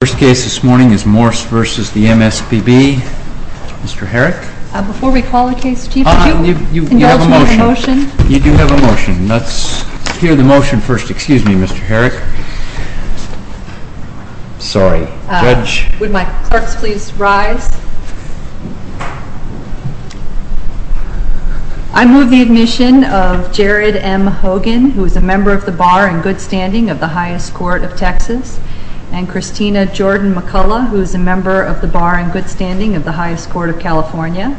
First case this morning is Morse v. MSPB. Mr. Herrick? Before we call the case, Chief, could you indulge me in a motion? You do have a motion. Let's hear the motion first. Excuse me, Mr. Herrick. Sorry. Judge? Would my clerks please rise? I move the admission of Jared M. Hogan, who is a member of the Bar and Good Standing of the Highest Court of Texas, and Christina Jordan McCullough, who is a member of the Bar and Good Standing of the Highest Court of California.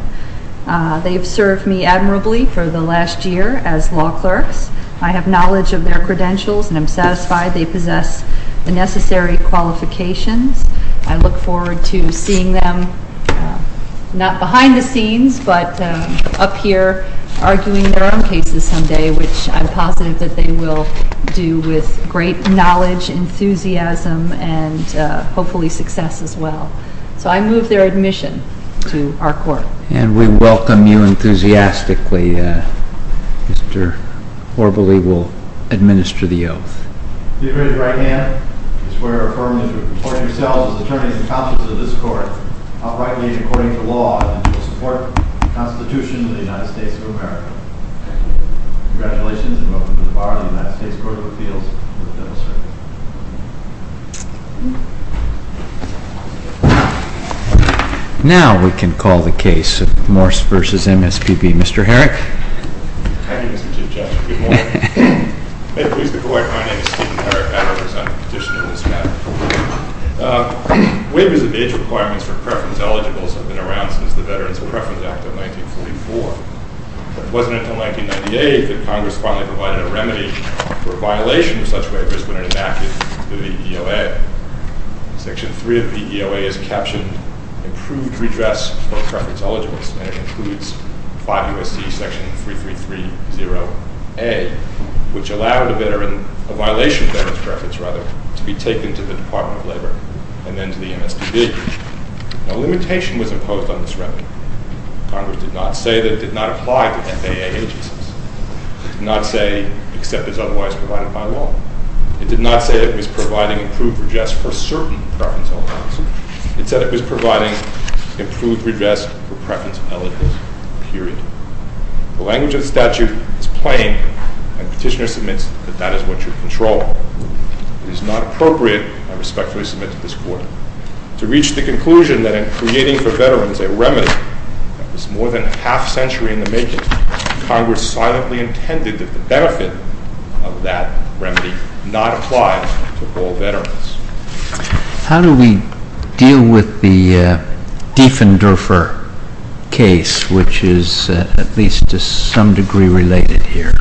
They have served me admirably for the last year as law clerks. I have knowledge of their credentials and am satisfied they possess the necessary qualifications. I look forward to seeing them, not behind the scenes, but up here arguing their own cases someday, which I'm positive that they will do with great knowledge, enthusiasm, and hopefully success as well. So I move their admission to our court. And we welcome you enthusiastically. Mr. Horvely will administer the oath. Please raise your right hand. I swear affirmatively to report yourselves as attorneys and counsels of this court, uprightly and according to law, and to the support of the Constitution of the United States of America. Congratulations, and welcome to the Bar of the United States Court of Appeals. Now we can call the case of Morse v. MSPB. Mr. Herrick? Thank you, Mr. Chief Judge. Good morning. May it please the Court, my name is Stephen Herrick. I represent the petitioner in this matter. Waivers of age requirements for preference eligibles have been around since the Veterans Preference Act of 1944. But it wasn't until 1998 that Congress finally provided a remedy for a violation of such waivers when it enacted the VDOA. Section 3 of the VDOA is captioned, Improved Redress for Preference Eligibles, and it includes 5 U.S.C. section 3330A, which allowed a violation of Veterans Preference to be taken to the Department of Labor and then to the MSPB. No limitation was imposed on this remedy. Congress did not say that it did not apply to FAA agencies. It did not say, except as otherwise provided by law. It did not say it was providing improved redress for certain preference eligibles. It said it was providing improved redress for preference eligibles, period. The language of the statute is plain, and the petitioner submits that that is what should control. It is not appropriate. I respectfully submit to this Court. To reach the conclusion that in creating for veterans a remedy that was more than half a century in the making, Congress silently intended that the benefit of that remedy not apply to all veterans. How do we deal with the Dieffendorfer case, which is at least to some degree related here?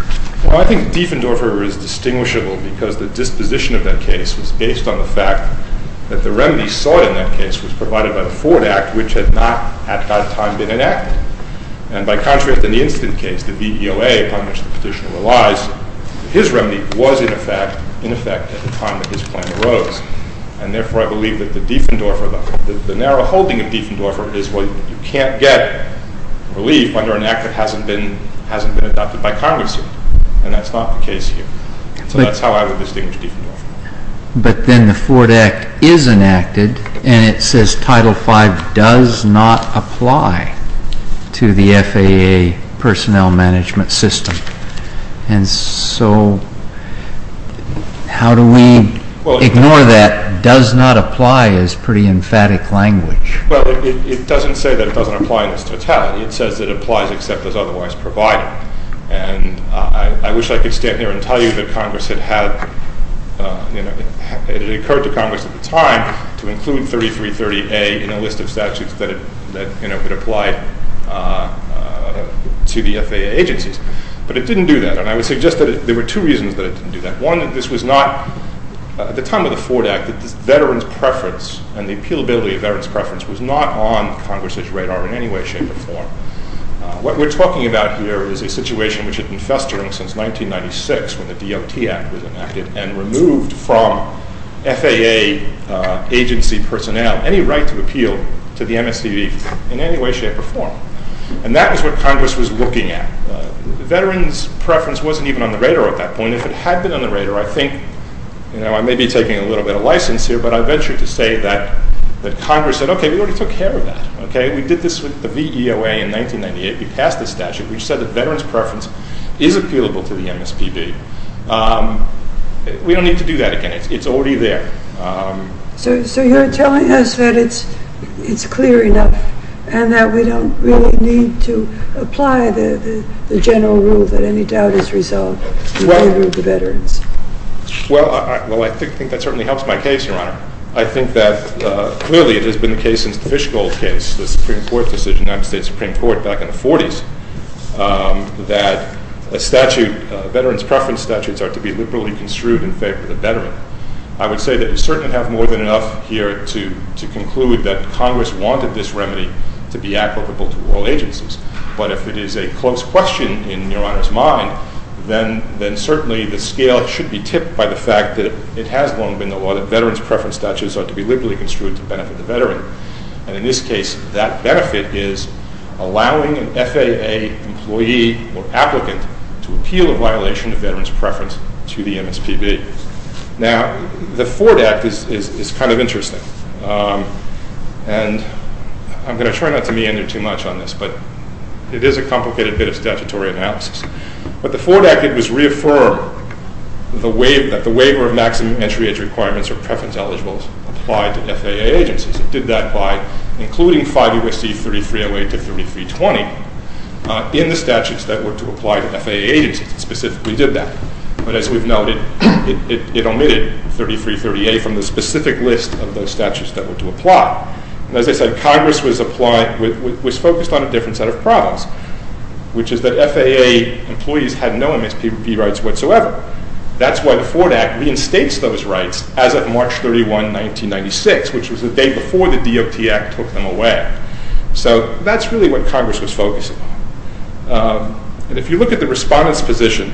Well, I think Dieffendorfer is distinguishable because the disposition of that case was based on the fact that the remedy sought in that case was provided by the Ford Act, which had not at that time been enacted. And by contrast, in the instant case, the VEOA, upon which the petitioner relies, his remedy was in effect at the time that his plan arose. And therefore, I believe that the narrow holding of Dieffendorfer is what you can't get relief under an Act that hasn't been adopted by Congress here. And that's not the case here. So that's how I would distinguish Dieffendorfer. But then the Ford Act is enacted, and it says Title V does not apply to the FAA personnel management system. And so how do we ignore that does not apply is pretty emphatic language. Well, it doesn't say that it doesn't apply in its totality. It says it applies except as otherwise provided. And I wish I could stand here and tell you that it occurred to Congress at the time to include 3330A in a list of statutes that it applied to the FAA agencies. But it didn't do that, and I would suggest that there were two reasons that it didn't do that. One, this was not, at the time of the Ford Act, the Veterans' preference and the appealability of Veterans' preference was not on Congress' radar in any way, shape, or form. What we're talking about here is a situation which had been festering since 1996 when the DOT Act was enacted and removed from FAA agency personnel any right to appeal to the MSCB in any way, shape, or form. And that was what Congress was looking at. Veterans' preference wasn't even on the radar at that point. If it had been on the radar, I think, you know, I may be taking a little bit of license here, but I venture to say that Congress said, okay, we already took care of that. Okay? We did this with the VEOA in 1998. We passed the statute. We said that Veterans' preference is appealable to the MSCB. We don't need to do that again. It's already there. So you're telling us that it's clear enough and that we don't really need to apply the general rule that any doubt is resolved. Well, I think that certainly helps my case, Your Honor. I think that clearly it has been the case since the Fishgold case, the Supreme Court decision, United States Supreme Court back in the 40s, that a statute, Veterans' preference statutes, are to be liberally construed in favor of the veteran. I would say that you certainly have more than enough here to conclude that Congress wanted this remedy to be applicable to all agencies. But if it is a close question in Your Honor's mind, then certainly the scale should be tipped by the fact that it has long been the law that Veterans' preference statutes are to be liberally construed to benefit the veteran. And in this case, that benefit is allowing an FAA employee or applicant to appeal a violation of Veterans' preference to the MSCB. Now, the Ford Act is kind of interesting. And I'm going to try not to meander too much on this, but it is a complicated bit of statutory analysis. But the Ford Act, it was reaffirmed that the waiver of maximum entry requirements or preference eligibles applied to FAA agencies. It did that by including 5 U.S.C. 3308 to 3320 in the statutes that were to apply to FAA agencies. It specifically did that. But as we've noted, it omitted 3330A from the specific list of those statutes that were to apply. And as I said, Congress was focused on a different set of problems, which is that FAA employees had no MSPB rights whatsoever. That's why the Ford Act reinstates those rights as of March 31, 1996, which was the day before the DOT Act took them away. So that's really what Congress was focused on. And if you look at the Respondent's position,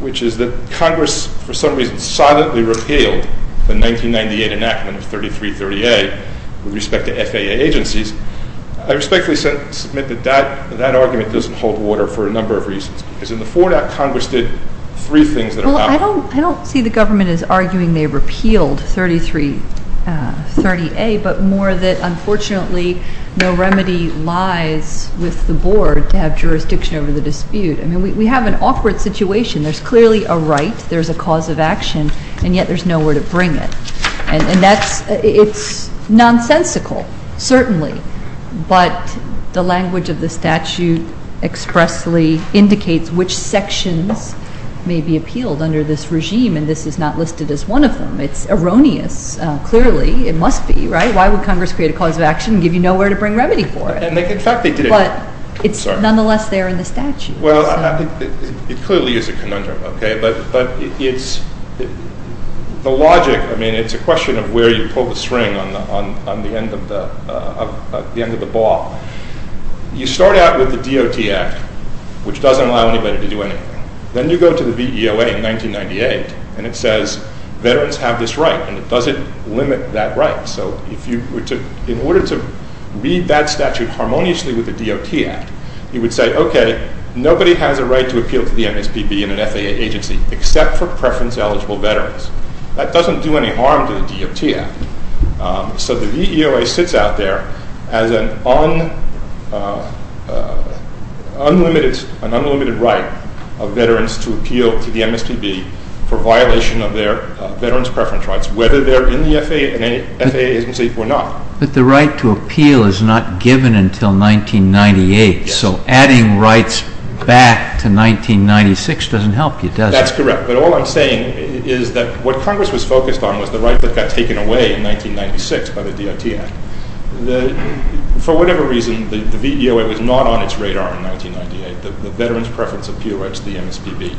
which is that Congress, for some reason, silently repealed the 1998 enactment of 3330A with respect to FAA agencies, I respectfully submit that that argument doesn't hold water for a number of reasons. Because in the Ford Act, Congress did three things that are valid. I don't see the government as arguing they repealed 3330A, but more that, unfortunately, no remedy lies with the Board to have jurisdiction over the dispute. I mean, we have an awkward situation. There's clearly a right, there's a cause of action, and yet there's nowhere to bring it. And it's nonsensical, certainly. But the language of the statute expressly indicates which sections may be appealed under this regime, and this is not listed as one of them. It's erroneous, clearly. It must be, right? Why would Congress create a cause of action and give you nowhere to bring remedy for it? In fact, they did. But it's nonetheless there in the statute. Well, it clearly is a conundrum, okay? But the logic, I mean, it's a question of where you pull the string on the end of the ball. You start out with the DOT Act, which doesn't allow anybody to do anything. Then you go to the VEOA in 1998, and it says veterans have this right, and it doesn't limit that right. So if you were to, in order to read that statute harmoniously with the DOT Act, you would say, okay, nobody has a right to appeal to the MSPB in an FAA agency except for preference-eligible veterans. That doesn't do any harm to the DOT Act. So the VEOA sits out there as an unlimited right of veterans to appeal to the MSPB for violation of their veterans' preference rights, whether they're in the FAA agency or not. But the right to appeal is not given until 1998, so adding rights back to 1996 doesn't help you, does it? That's correct. But all I'm saying is that what Congress was focused on was the right that got taken away in 1996 by the DOT Act. For whatever reason, the VEOA was not on its radar in 1998, the veterans' preference appeal rights to the MSPB.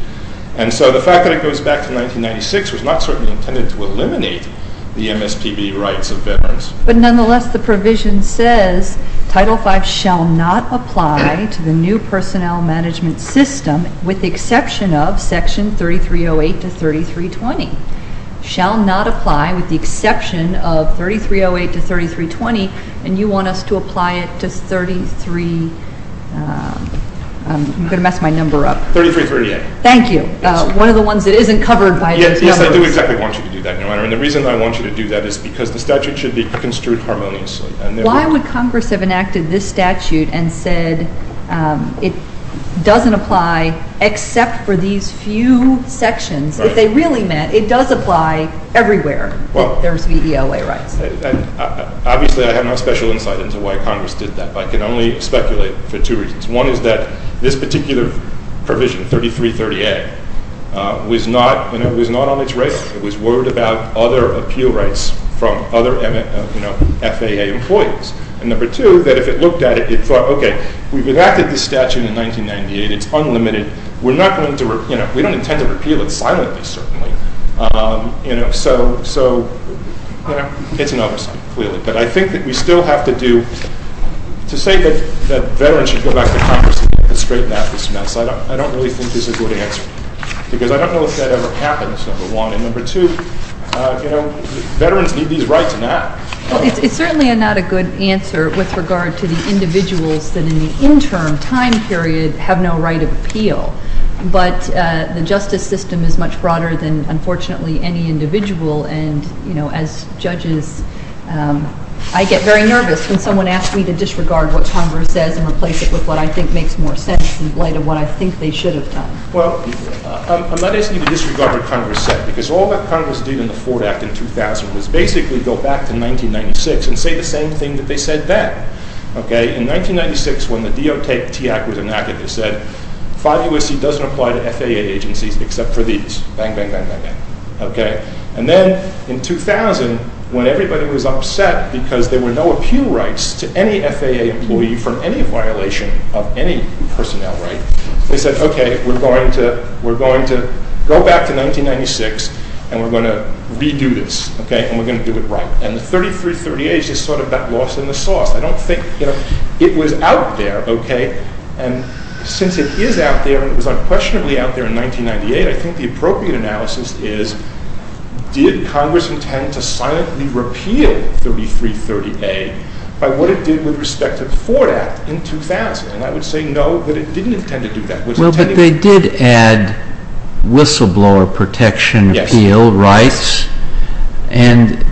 And so the fact that it goes back to 1996 was not certainly intended to eliminate the MSPB rights of veterans. But nonetheless, the provision says Title V shall not apply to the new personnel management system with the exception of Section 3308 to 3320. It shall not apply with the exception of 3308 to 3320, and you want us to apply it to 33-I'm going to mess my number up. 3338. Thank you. One of the ones that isn't covered by those numbers. Yes, I do exactly want you to do that, Your Honor. And the reason I want you to do that is because the statute should be construed harmoniously. Why would Congress have enacted this statute and said it doesn't apply except for these few sections if they really meant it does apply everywhere that there's VEOA rights? Obviously, I have no special insight into why Congress did that, but I can only speculate for two reasons. One is that this particular provision, 3338, was not on its radar. It was worried about other appeal rights from other FAA employees. And number two, that if it looked at it, it thought, okay, we've enacted this statute in 1998. It's unlimited. We don't intend to repeal it silently, certainly. So it's an oversight, clearly. But I think that we still have to do to say that veterans should go back to Congress and get this straightened out, dismissed. I don't really think this is a good answer because I don't know if that ever happens, number one. And number two, you know, veterans need these rights now. Well, it's certainly not a good answer with regard to the individuals that in the interim time period have no right of appeal. But the justice system is much broader than, unfortunately, any individual. And, you know, as judges, I get very nervous when someone asks me to disregard what Congress says and replace it with what I think makes more sense in light of what I think they should have done. Well, I'm not asking you to disregard what Congress said because all that Congress did in the Ford Act in 2000 was basically go back to 1996 and say the same thing that they said then. Okay? In 1996, when the DOTAC was enacted, it said, 5 U.S.C. doesn't apply to FAA agencies except for these. Bang, bang, bang, bang, bang. Okay? And then in 2000, when everybody was upset because there were no appeal rights to any FAA employee for any violation of any personnel right, they said, okay, we're going to go back to 1996 and we're going to redo this. Okay? And we're going to do it right. And the 3338 is just sort of that loss in the sauce. I don't think, you know, it was out there, okay? And since it is out there and it was unquestionably out there in 1998, I think the appropriate analysis is, did Congress intend to silently repeal 3338 by what it did with respect to the Ford Act in 2000? And I would say no, that it didn't intend to do that. Well, but they did add whistleblower protection appeal rights. Yes. And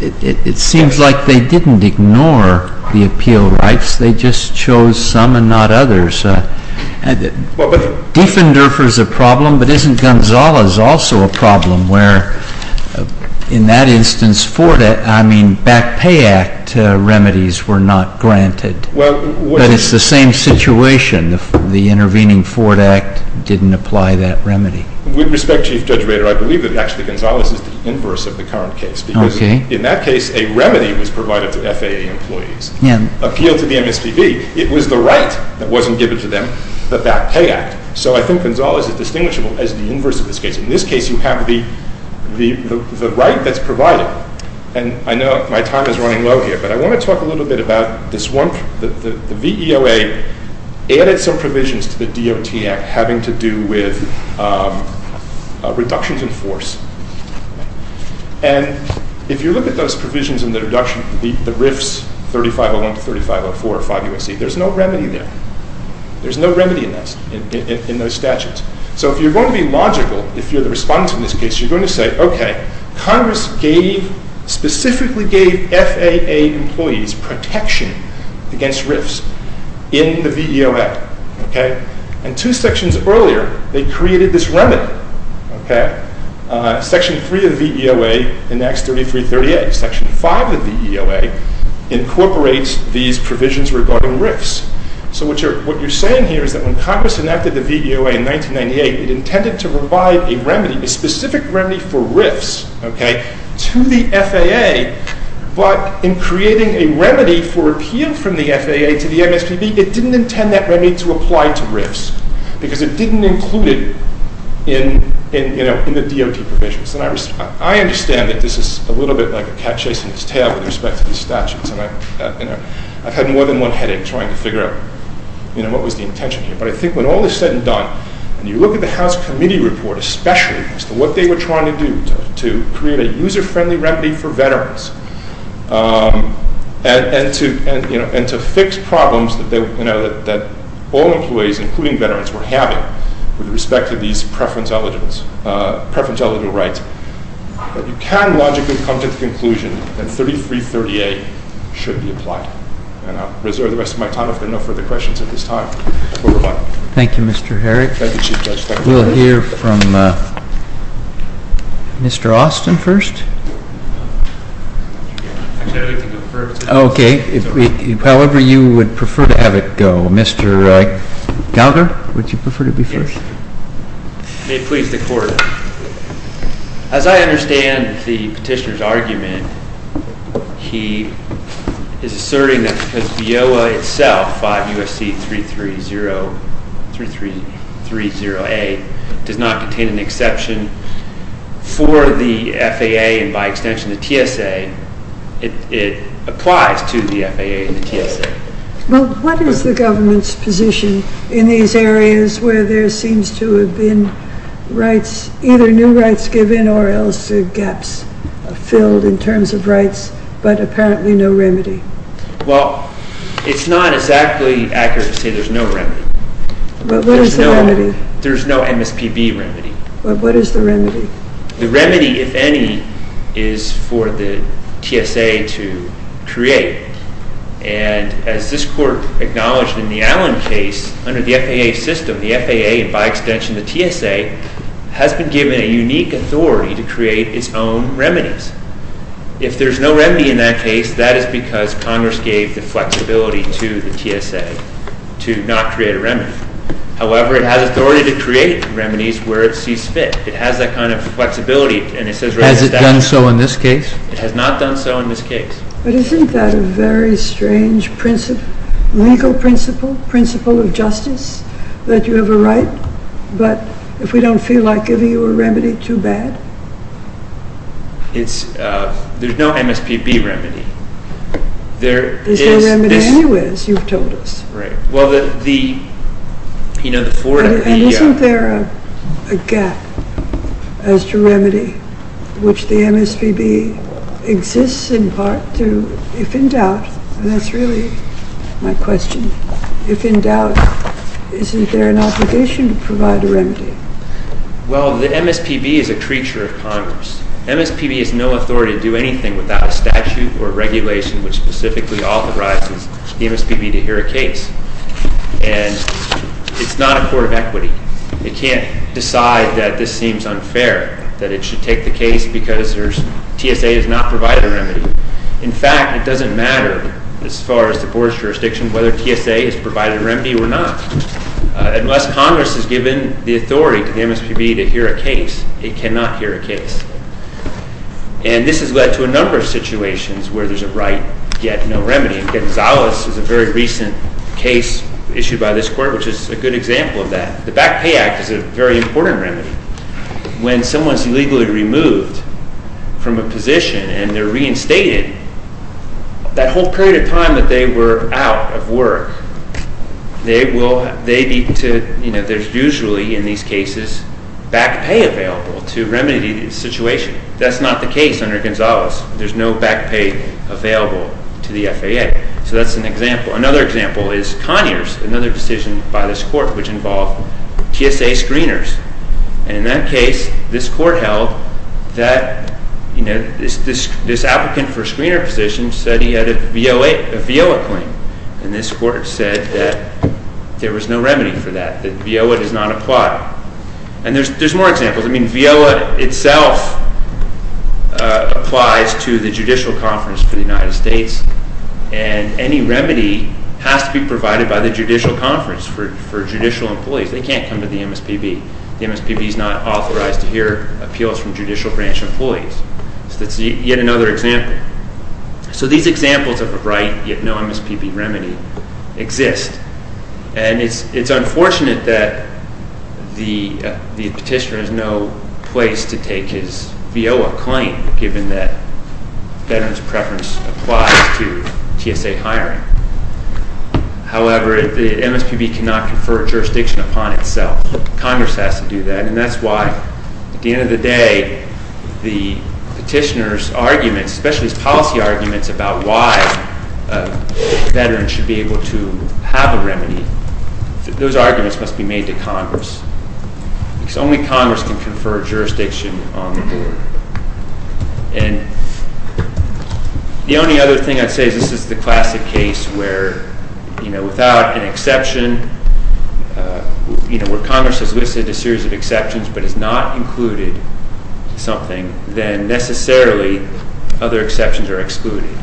it seems like they didn't ignore the appeal rights. They just chose some and not others. Diffenderfer is a problem, but isn't Gonzales also a problem where, in that instance, Ford, I mean, back pay act remedies were not granted? But it's the same situation. The intervening Ford Act didn't apply that remedy. With respect, Chief Judge Bader, I believe that actually Gonzales is the inverse of the current case. Okay. Because in that case, a remedy was provided to FAA employees. Yes. Appeal to the MSPB. It was the right that wasn't given to them, the back pay act. So I think Gonzales is distinguishable as the inverse of this case. In this case, you have the right that's provided. And I know my time is running low here, but I want to talk a little bit about this one. The VEOA added some provisions to the DOT Act having to do with reductions in force. And if you look at those provisions in the reduction, the RIFs, 3501 to 3504, there's no remedy there. There's no remedy in those statutes. So if you're going to be logical, if you're the respondent in this case, you're going to say, okay, Congress gave, specifically gave FAA employees protection against RIFs in the VEOA. Okay. And two sections earlier, they created this remedy. Okay. Section three of the VEOA enacts 3338. Section five of the VEOA incorporates these provisions regarding RIFs. So what you're saying here is that when Congress enacted the VEOA in 1998, it intended to provide a remedy, a specific remedy for RIFs, okay, to the FAA, but in creating a remedy for appeal from the FAA to the MSPB, it didn't intend that remedy to apply to RIFs because it didn't include it in the DOT provisions. And I understand that this is a little bit like a cat chasing its tail with respect to these statutes, and I've had more than one headache trying to figure out what was the intention here. But I think when all is said and done, and you look at the House Committee report, especially as to what they were trying to do to create a user-friendly remedy for veterans and to fix problems that all employees, including veterans, were having with respect to these preference eligible rights, that you can logically come to the conclusion that 3338 should be applied. And I'll reserve the rest of my time if there are no further questions at this time. Thank you, Mr. Herrick. Thank you, Chief Judge. We'll hear from Mr. Austin first. Okay, however you would prefer to have it go. Mr. Gallagher, would you prefer to be first? Yes. May it please the Court. As I understand the petitioner's argument, he is asserting that because VIOA itself, 5 U.S.C. 330A, does not contain an exception for the FAA and, by extension, the TSA, it applies to the FAA and the TSA. Well, what is the government's position in these areas where there seems to have been rights, either new rights given or else gaps filled in terms of rights but apparently no remedy? Well, it's not exactly accurate to say there's no remedy. But what is the remedy? There's no MSPB remedy. But what is the remedy? The remedy, if any, is for the TSA to create. And as this Court acknowledged in the Allen case, under the FAA system, the FAA and, by extension, the TSA, has been given a unique authority to create its own remedies. If there's no remedy in that case, that is because Congress gave the flexibility to the TSA to not create a remedy. However, it has authority to create remedies where it sees fit. It has that kind of flexibility. Has it done so in this case? It has not done so in this case. But isn't that a very strange legal principle, principle of justice, that you have a right, but if we don't feel like giving you a remedy, too bad? There's no MSPB remedy. There is no remedy anyways, you've told us. Isn't there a gap as to remedy which the MSPB exists in part to, if in doubt, and that's really my question, if in doubt, isn't there an obligation to provide a remedy? Well, the MSPB is a creature of Congress. MSPB has no authority to do anything without a statute or regulation which specifically authorizes the MSPB to hear a case. And it's not a court of equity. It can't decide that this seems unfair, that it should take the case because TSA has not provided a remedy. In fact, it doesn't matter, as far as the board's jurisdiction, whether TSA has provided a remedy or not. Unless Congress has given the authority to the MSPB to hear a case, it cannot hear a case. And this has led to a number of situations where there's a right yet no remedy. Gonzalez is a very recent case issued by this court, which is a good example of that. The Back Pay Act is a very important remedy. When someone's illegally removed from a position and they're reinstated, that whole period of time that they were out of work, there's usually, in these cases, back pay available to remedy the situation. That's not the case under Gonzalez. There's no back pay available to the FAA. So that's an example. Another example is Conyers, another decision by this court which involved TSA screeners. And in that case, this court held that this applicant for a screener position said he had a VOA claim. And this court said that there was no remedy for that, that VOA does not apply. And there's more examples. I mean, VOA itself applies to the Judicial Conference for the United States. And any remedy has to be provided by the Judicial Conference for judicial employees. They can't come to the MSPB. The MSPB is not authorized to hear appeals from judicial branch employees. So that's yet another example. So these examples of a right, yet no MSPB remedy, exist. And it's unfortunate that the petitioner has no place to take his VOA claim, given that veterans' preference applies to TSA hiring. However, the MSPB cannot confer jurisdiction upon itself. Congress has to do that. And that's why, at the end of the day, the petitioner's arguments, especially his policy arguments about why veterans should be able to have a remedy, those arguments must be made to Congress. Because only Congress can confer jurisdiction on the board. And the only other thing I'd say is this is the classic case where, you know, without an exception, you know, where Congress has listed a series of exceptions but has not included something, then necessarily other exceptions are excluded.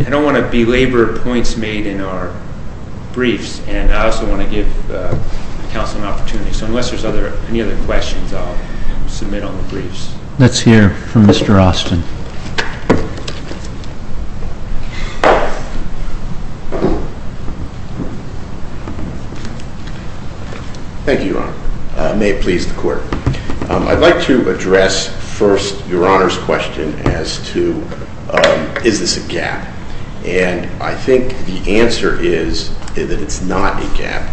I don't want to belabor points made in our briefs, and I also want to give counsel an opportunity. So unless there's any other questions, I'll submit on the briefs. Let's hear from Mr. Austin. Thank you, Your Honor. May it please the Court. I'd like to address first Your Honor's question as to is this a gap. And I think the answer is that it's not a gap,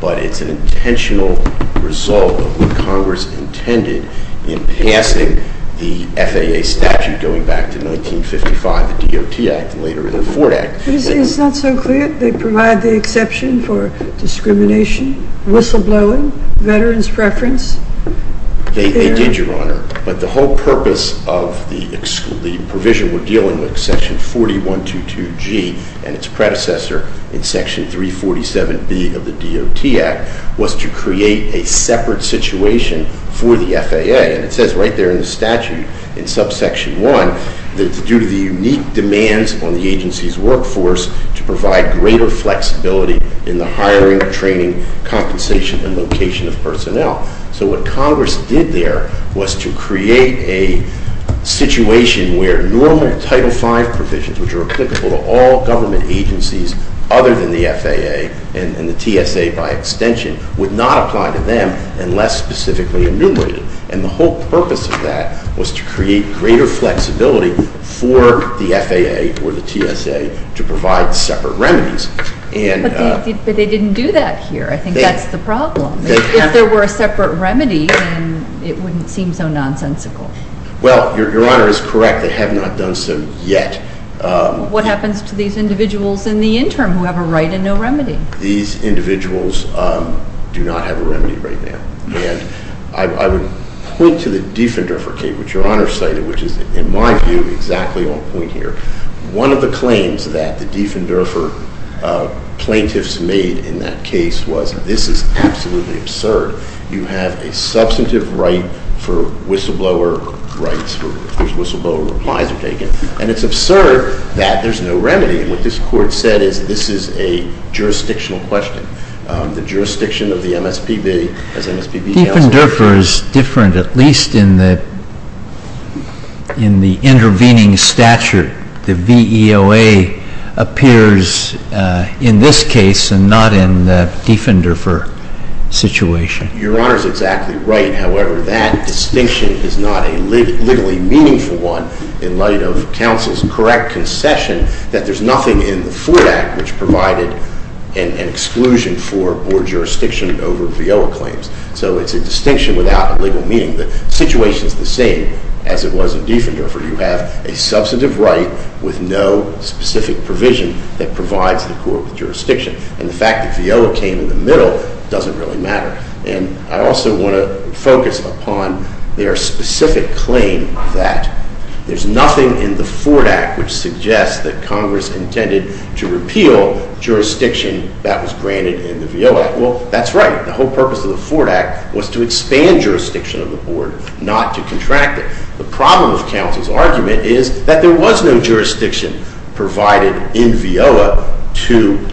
but it's an intentional result of what Congress intended in passing the FAA statute going back to 1955, the DOT Act, and later in the Fort Act. It's not so clear. They provide the exception for discrimination, whistleblowing, veterans' preference. They did, Your Honor. But the whole purpose of the provision we're dealing with, section 4122G and its predecessor in section 347B of the DOT Act, was to create a separate situation for the FAA. And it says right there in the statute, in subsection 1, that it's due to the unique demands on the agency's workforce to provide greater flexibility in the hiring, training, compensation, and location of personnel. So what Congress did there was to create a situation where normal Title V provisions, which are applicable to all government agencies other than the FAA and the TSA by extension, would not apply to them unless specifically enumerated. And the whole purpose of that was to create greater flexibility for the FAA or the TSA to provide separate remedies. But they didn't do that here. I think that's the problem. If there were a separate remedy, then it wouldn't seem so nonsensical. Well, Your Honor is correct. They have not done so yet. What happens to these individuals in the interim who have a right and no remedy? These individuals do not have a remedy right now. And I would point to the Diefendorfer case, which Your Honor cited, which is, in my view, exactly on point here. One of the claims that the Diefendorfer plaintiffs made in that case was this is absolutely absurd. You have a substantive right for whistleblower rights for which whistleblower replies are taken. And it's absurd that there's no remedy. And what this Court said is this is a jurisdictional question. The jurisdiction of the MSPB as MSPB counsels. Diefendorfer is different, at least in the intervening stature. The VEOA appears in this case and not in the Diefendorfer situation. Your Honor is exactly right. However, that distinction is not a legally meaningful one in light of counsel's correct concession that there's nothing in the Ford Act which provided an exclusion for board jurisdiction over VEOA claims. So it's a distinction without a legal meaning. The situation is the same as it was in Diefendorfer. You have a substantive right with no specific provision that provides the court with jurisdiction. And the fact that VEOA came in the middle doesn't really matter. And I also want to focus upon their specific claim that there's nothing in the Ford Act which suggests that Congress intended to repeal jurisdiction that was granted in the VEOA. Well, that's right. The whole purpose of the Ford Act was to expand jurisdiction of the board, not to contract it. The problem with counsel's argument is that there was no jurisdiction provided in VEOA to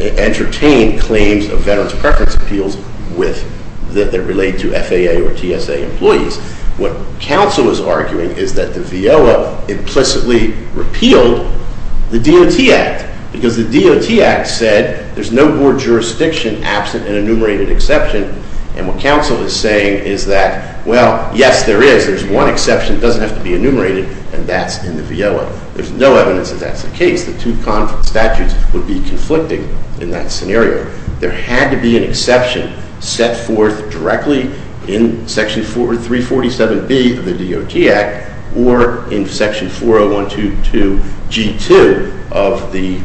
entertain claims of veterans' preference appeals that relate to FAA or TSA employees. What counsel is arguing is that the VEOA implicitly repealed the DOT Act because the DOT Act said there's no board jurisdiction absent an enumerated exception. And what counsel is saying is that, well, yes, there is. There's one exception. It doesn't have to be enumerated, and that's in the VEOA. There's no evidence that that's the case. The two statutes would be conflicting in that scenario. There had to be an exception set forth directly in Section 347B of the DOT Act or in Section 40122G2 of the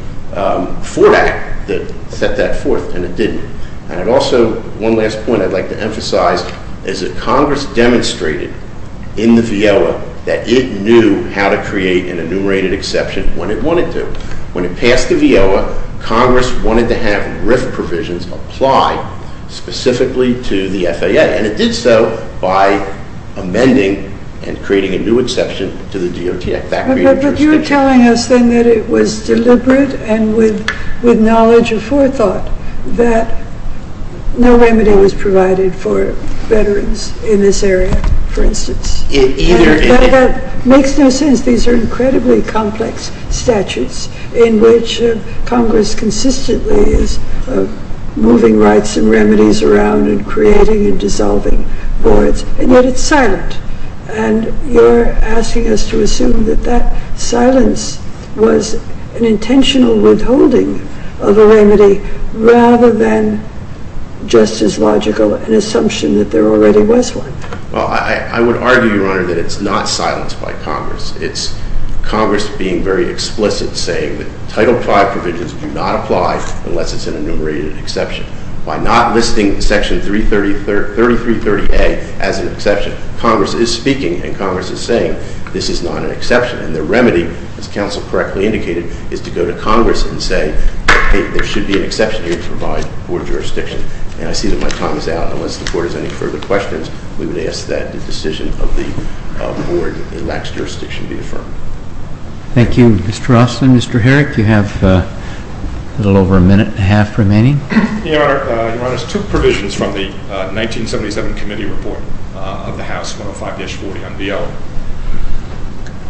Ford Act that set that forth, and it didn't. And also, one last point I'd like to emphasize is that Congress demonstrated in the VEOA that it knew how to create an enumerated exception when it wanted to. When it passed the VEOA, Congress wanted to have RIF provisions apply specifically to the FAA, and it did so by amending and creating a new exception to the DOT Act. But you're telling us, then, that it was deliberate and with knowledge of forethought that no remedy was provided for veterans in this area, for instance. And that makes no sense. These are incredibly complex statutes in which Congress consistently is moving rights and remedies around and creating and dissolving boards, and yet it's silent. And you're asking us to assume that that silence was an intentional withholding of a remedy rather than just as logical an assumption that there already was one. Well, I would argue, Your Honor, that it's not silence by Congress. It's Congress being very explicit, saying that Title V provisions do not apply unless it's an enumerated exception. By not listing Section 3330A as an exception, Congress is speaking and Congress is saying this is not an exception. And the remedy, as counsel correctly indicated, is to go to Congress and say, hey, there should be an exception here to provide board jurisdiction. And I see that my time is out. Unless the board has any further questions, we would ask that the decision of the board in lax jurisdiction be affirmed. Thank you. Mr. Ross and Mr. Herrick, you have a little over a minute and a half remaining. Your Honor, I took provisions from the 1977 committee report of the House 105-40 on BLM.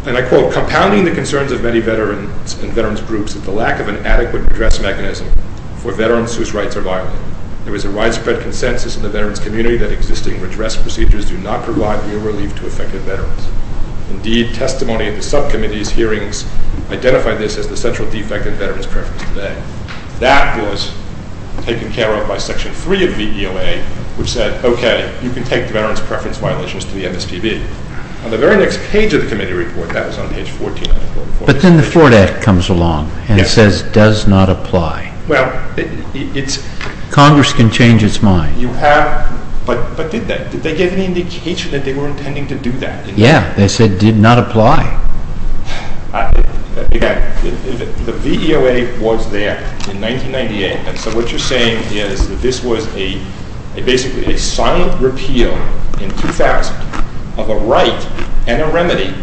And I quote, Compounding the concerns of many veterans and veterans groups is the lack of an adequate redress mechanism for veterans whose rights are violated. There is a widespread consensus in the veterans community that existing redress procedures do not provide real relief to affected veterans. Indeed, testimony at the subcommittee's hearings identified this as the central defect in veterans' preference today. And that was taken care of by Section 3 of the VEOA, which said, okay, you can take the veterans' preference violations to the MSPB. On the very next page of the committee report, that was on page 14. But then the Ford Act comes along and says, does not apply. Well, it's Congress can change its mind. You have, but did they? Did they give any indication that they were intending to do that? Yeah. They said, did not apply. The VEOA was there in 1998. And so what you're saying is that this was a, basically, a silent repeal in 2000 of a right and a remedy.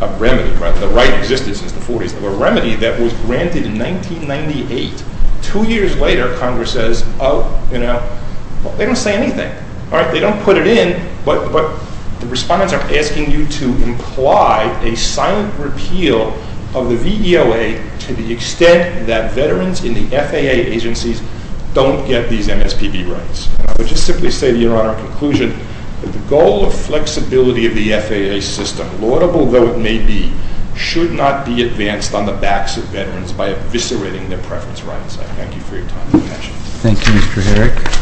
A remedy, right? The right existed since the 40s. A remedy that was granted in 1998. Two years later, Congress says, oh, you know, they don't say anything. All right? They don't put it in. But the respondents are asking you to imply a silent repeal of the VEOA to the extent that veterans in the FAA agencies don't get these MSPB rights. And I would just simply say, Your Honor, in conclusion, that the goal of flexibility of the FAA system, laudable though it may be, should not be advanced on the backs of veterans by eviscerating their preference rights. I thank you for your time and attention. Thank you, Mr. Herrick.